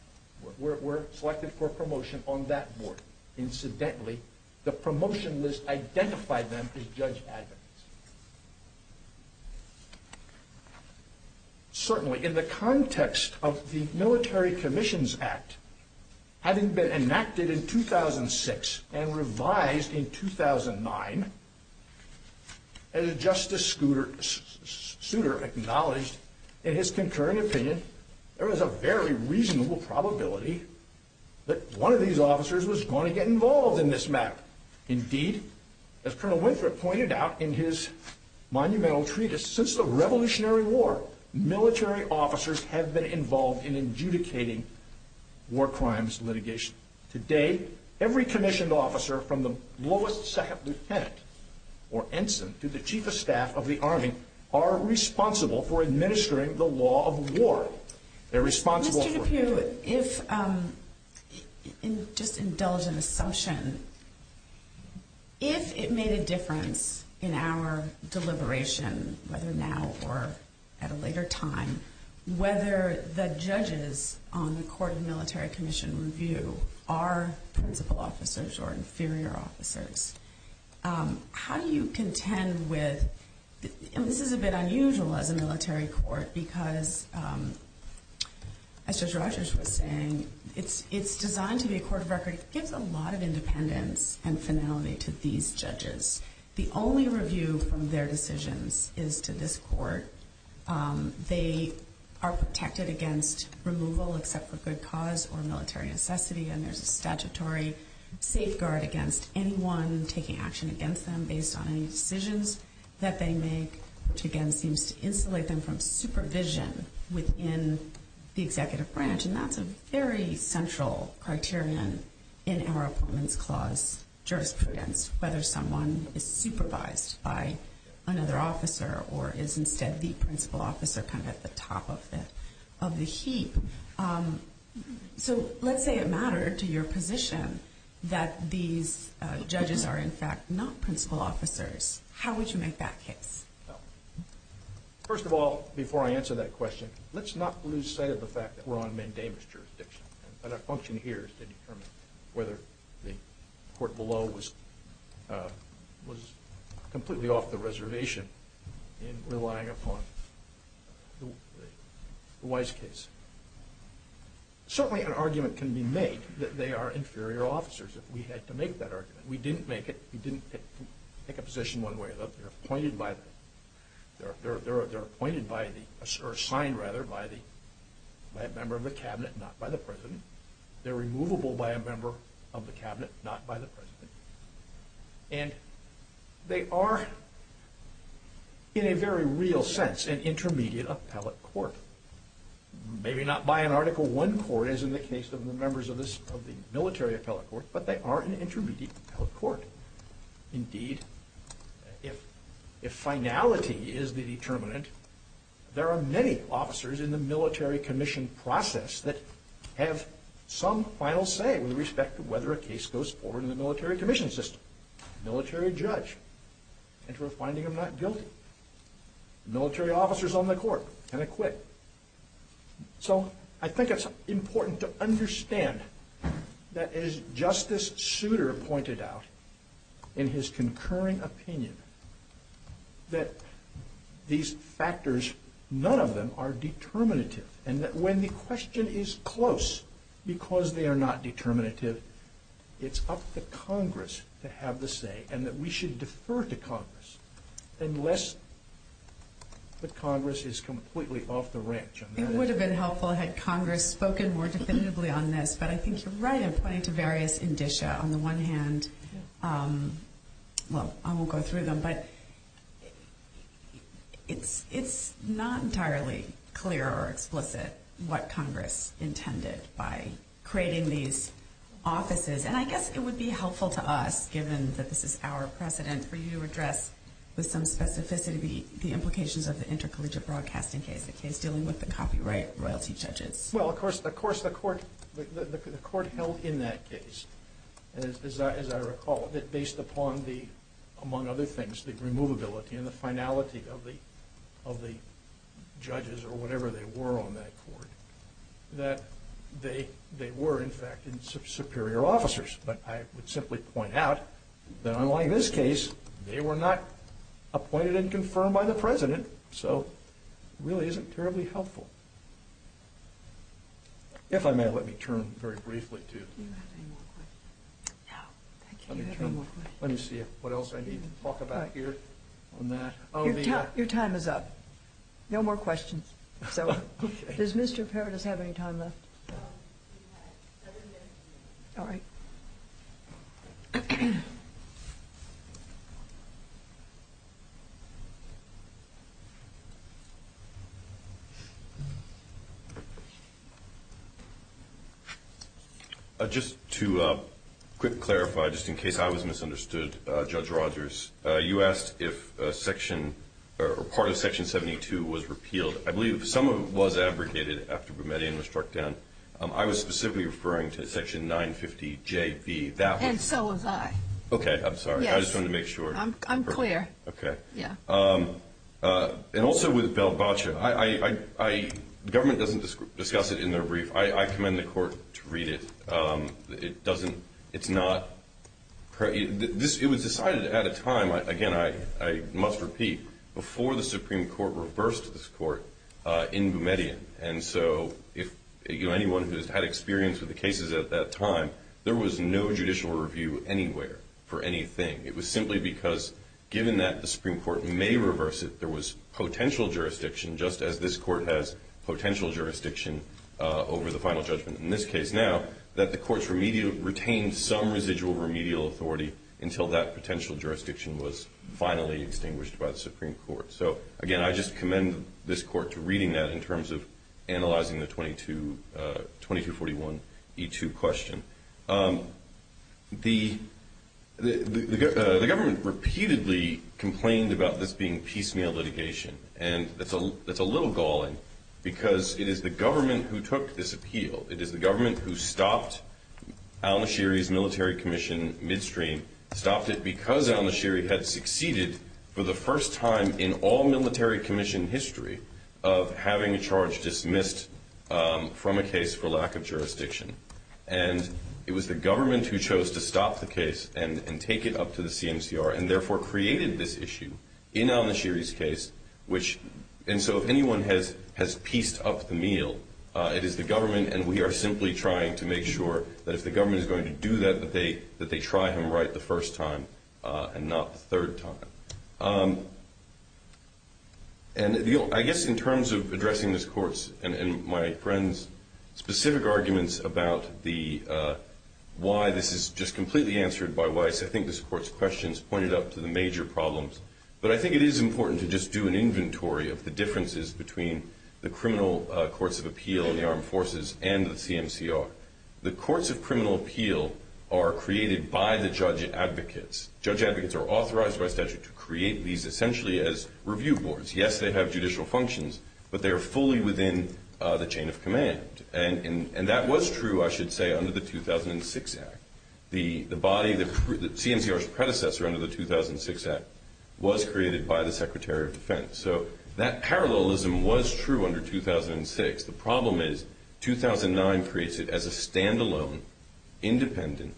were selected for promotion on that board. Incidentally, the promotion list identified them as judge advocates. Certainly, in the context of the Military Commissions Act, having been enacted in 2006 and revised in 2009, as Justice Souter acknowledged in his concurring opinion, there was a very reasonable probability that one of these officers was going to get involved in this matter. Indeed, as Colonel Winthrop pointed out in his monumental treatise, since the Revolutionary War, military officers have been involved in adjudicating war crimes litigation. Today, every commissioned officer from the lowest second lieutenant or ensign to the chief of staff of the Army are responsible for administering the law of war. Mr. DePue, if, just indulge an assumption, if it made a difference in our deliberation, whether now or at a later time, whether the judges on the Court of Military Commission Review are principal officers or inferior officers, how do you contend with, and this is a bit unusual as a military court, because, as Judge Rogers was saying, it's designed to be a court of record. It gives a lot of independence and finality to these judges. The only review from their decisions is to this court. They are protected against removal except for good cause or military necessity, and there's a statutory safeguard against anyone taking action against them within the executive branch, and that's a very central criterion in our Appointments Clause jurisprudence, whether someone is supervised by another officer or is instead the principal officer kind of at the top of the heap. So let's say it mattered to your position that these judges are, in fact, not principal officers. How would you make that case? First of all, before I answer that question, let's not lose sight of the fact that we're on mandamus jurisdiction, and our function here is to determine whether the court below was completely off the reservation in relying upon the Wise case. Certainly an argument can be made that they are inferior officers if we had to make that argument. We didn't make it. We didn't take a position one way or the other. They're appointed by the—they're appointed by the—or assigned, rather, by a member of the cabinet, not by the president. They're removable by a member of the cabinet, not by the president. And they are, in a very real sense, an intermediate appellate court. Maybe not by an Article I court as in the case of the members of the military appellate court, but they are an intermediate appellate court. Indeed, if finality is the determinant, there are many officers in the military commission process that have some final say with respect to whether a case goes forward in the military commission system. Military judge, enter a finding of not guilty. Military officers on the court, can acquit. So, I think it's important to understand that, as Justice Souter pointed out in his concurring opinion, that these factors, none of them are determinative, and that when the question is close, because they are not determinative, it's up to Congress to have the say, and that we should defer to Congress unless the Congress is completely off the ranch on that. It would have been helpful had Congress spoken more definitively on this, but I think you're right in pointing to various indicia. On the one hand, well, I won't go through them, but it's not entirely clear or explicit what Congress intended by creating these offices. And I guess it would be helpful to us, given that this is our precedent, for you to address with some specificity the implications of the intercollegiate broadcasting case, the case dealing with the copyright royalty judges. Well, of course, the court held in that case, as I recall, that based upon the, among other things, the removability and the finality of the judges or whatever they were on that court, that they were, in fact, superior officers. But I would simply point out that, unlike this case, they were not appointed and confirmed by the president, so it really isn't terribly helpful. If I may, let me turn very briefly to... Do you have any more questions? No, I can't. Let me see what else I need to talk about here on that. Your time is up. No more questions. Does Mr. Parrott have any time left? All right. Just to quick clarify, just in case I was misunderstood, Judge Rogers, you asked if a section or part of Section 72 was repealed. I believe some of it was abrogated after Boumediene was struck down. I was specifically referring to Section 950JB. And so was I. Okay. I'm sorry. I just wanted to make sure. I'm clear. Okay. Yeah. And also with Valboccia, the government doesn't discuss it in their brief. I commend the court to read it. It was decided at a time, again, I must repeat, before the Supreme Court reversed this court in Boumediene. And so anyone who has had experience with the cases at that time, there was no judicial review anywhere for anything. It was simply because given that the Supreme Court may reverse it, there was potential jurisdiction, just as this court has potential jurisdiction over the final judgment in this case now, that the courts retained some residual remedial authority until that potential jurisdiction was finally extinguished by the Supreme Court. So, again, I just commend this court to reading that in terms of analyzing the 2241E2 question. The government repeatedly complained about this being piecemeal litigation. And that's a little galling because it is the government who took this appeal. It is the government who stopped al-Nashiri's military commission midstream, stopped it because al-Nashiri had succeeded for the first time in all military commission history of having a charge dismissed from a case for lack of jurisdiction. And it was the government who chose to stop the case and take it up to the CMCR And so if anyone has pieced up the meal, it is the government, and we are simply trying to make sure that if the government is going to do that, that they try him right the first time and not the third time. I guess in terms of addressing this court's and my friend's specific arguments about why this is just completely answered by Weiss, I think this court's questions pointed up to the major problems. But I think it is important to just do an inventory of the differences between the criminal courts of appeal and the armed forces and the CMCR. The courts of criminal appeal are created by the judge advocates. Judge advocates are authorized by statute to create these essentially as review boards. Yes, they have judicial functions, but they are fully within the chain of command. And that was true, I should say, under the 2006 Act. The body, the CMCR's predecessor under the 2006 Act, was created by the Secretary of Defense. So that parallelism was true under 2006. The problem is 2009 creates it as a standalone, independent,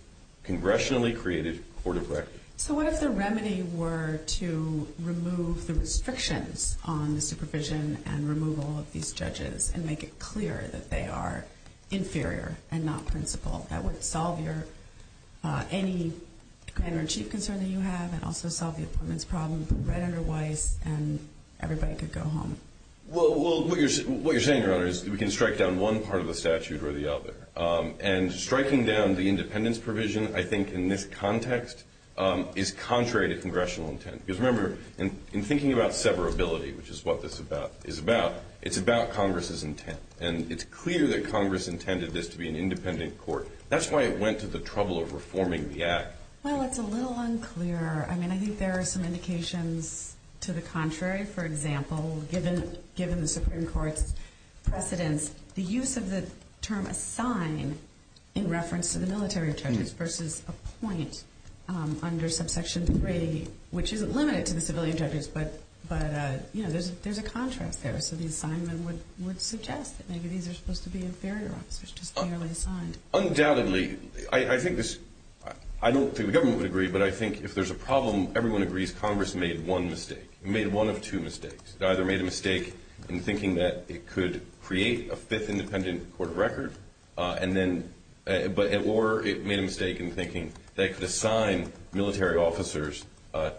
congressionally created court of record. So what if the remedy were to remove the restrictions on the supervision and removal of these judges and make it clear that they are inferior and not principled? That would solve your any grand or chief concern that you have and also solve the appointments problem right under Weiss and everybody could go home. Well, what you're saying, Your Honor, is we can strike down one part of the statute or the other. And striking down the independence provision, I think, in this context is contrary to congressional intent. Because remember, in thinking about severability, which is what this is about, it's about Congress's intent. And it's clear that Congress intended this to be an independent court. That's why it went to the trouble of reforming the Act. Well, it's a little unclear. I mean, I think there are some indications to the contrary. For example, given the Supreme Court's precedence, the use of the term assign in reference to the military judges versus appoint under subsection 3, which isn't limited to the civilian judges, but, you know, there's a contrast there. So the assignment would suggest that maybe these are supposed to be inferior officers just merely assigned. Undoubtedly. I don't think the government would agree, but I think if there's a problem, everyone agrees Congress made one mistake. It made one of two mistakes. It either made a mistake in thinking that it could create a fifth independent court of record, or it made a mistake in thinking that it could assign military officers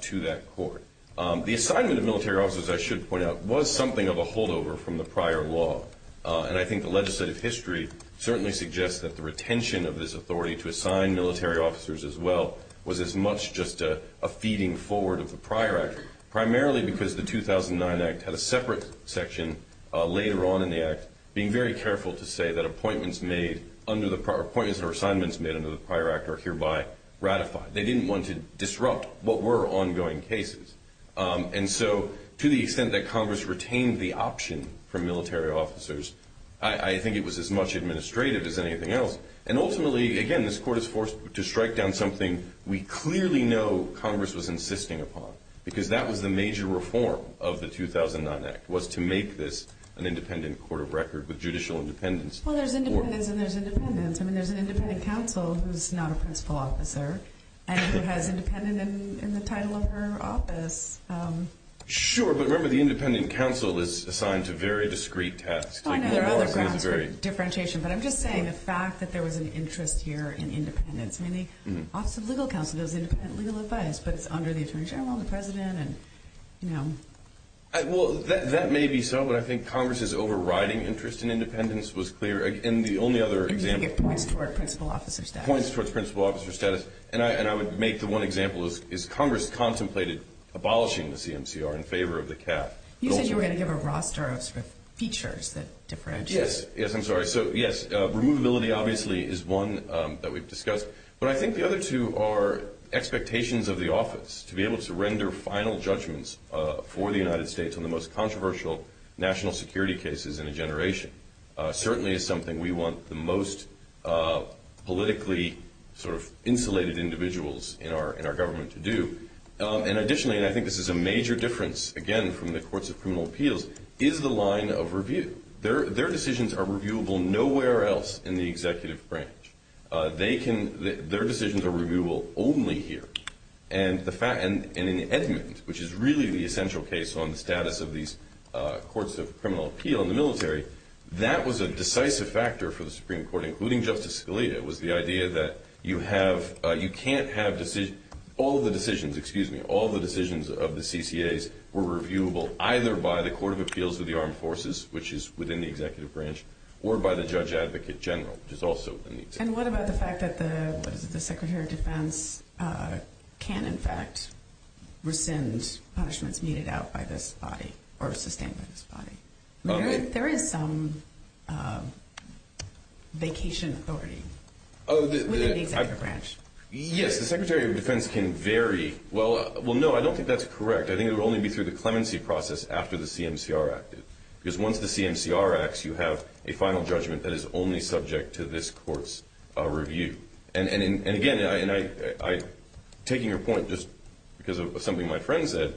to that court. The assignment of military officers, I should point out, was something of a holdover from the prior law. And I think the legislative history certainly suggests that the retention of this authority to assign military officers as well was as much just a feeding forward of the prior Act, primarily because the 2009 Act had a separate section later on in the Act being very careful to say that appointments made under the prior appointments or assignments made under the prior Act are hereby ratified. They didn't want to disrupt what were ongoing cases. And so to the extent that Congress retained the option for military officers, I think it was as much administrative as anything else. And ultimately, again, this court is forced to strike down something we clearly know Congress was insisting upon, because that was the major reform of the 2009 Act was to make this an independent court of record with judicial independence. Well, there's independence and there's independence. I mean, there's an independent counsel who's not a principal officer and who has independent in the title of her office. Sure. But remember, the independent counsel is assigned to very discrete tasks. Oh, I know. There are other crafts for differentiation. But I'm just saying the fact that there was an interest here in independence. I mean, the Office of Legal Counsel does independent legal advice, but it's under the attorney general and the president and, you know. Well, that may be so. But I think Congress's overriding interest in independence was clear. And the only other example. It points towards principal officer status. It points towards principal officer status. And I would make the one example is Congress contemplated abolishing the CMCR in favor of the CAF. You said you were going to give a roster of sort of features that differentiate. Yes. Yes, I'm sorry. So, yes, removability obviously is one that we've discussed. But I think the other two are expectations of the office to be able to render final judgments for the United States on the most controversial national security cases in a generation. Certainly is something we want the most politically sort of insulated individuals in our government to do. And additionally, and I think this is a major difference, again, from the courts of criminal appeals, is the line of review. Their decisions are reviewable nowhere else in the executive branch. Their decisions are reviewable only here. And in the Edmund, which is really the essential case on the status of these courts of criminal appeal in the military, that was a decisive factor for the Supreme Court, including Justice Scalia, was the idea that you can't have all of the decisions, excuse me, all of the decisions of the CCAs were reviewable either by the Court of Appeals of the Armed Forces, which is within the executive branch, or by the Judge Advocate General, which is also within the executive branch. And what about the fact that the Secretary of Defense can, in fact, rescind punishments needed out by this body or sustained by this body? There is some vacation authority within the executive branch. Yes, the Secretary of Defense can vary. Well, no, I don't think that's correct. I think it would only be through the clemency process after the CMCR Act. Because once the CMCR acts, you have a final judgment that is only subject to this court's review. And, again, taking your point just because of something my friend said,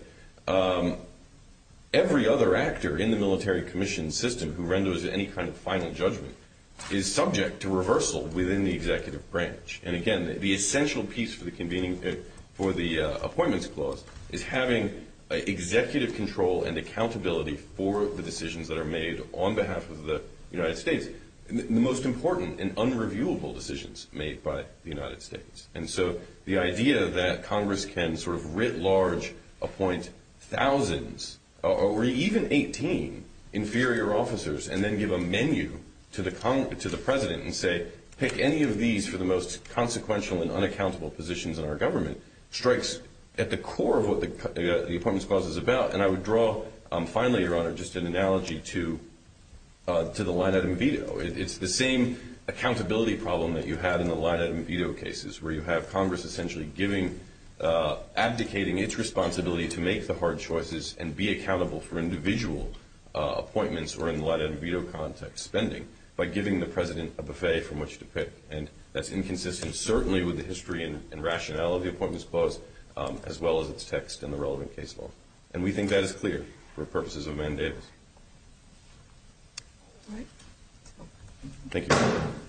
every other actor in the military commission system who renders any kind of final judgment is subject to reversal within the executive branch. And, again, the essential piece for the Appointments Clause is having executive control and accountability for the decisions that are made on behalf of the United States, the most important and unreviewable decisions made by the United States. And so the idea that Congress can sort of writ large appoint thousands or even 18 inferior officers and then give a menu to the President and say, pick any of these for the most consequential and unaccountable positions in our government, strikes at the core of what the Appointments Clause is about. And I would draw, finally, Your Honor, just an analogy to the line-item veto. It's the same accountability problem that you have in the line-item veto cases, where you have Congress essentially abdicating its responsibility to make the hard choices and be accountable for individual appointments or, in the line-item veto context, spending, by giving the President a buffet from which to pick. And that's inconsistent certainly with the history and rationale of the Appointments Clause, as well as its text and the relevant case law. And we think that is clear for purposes of mandators. All right. Thank you.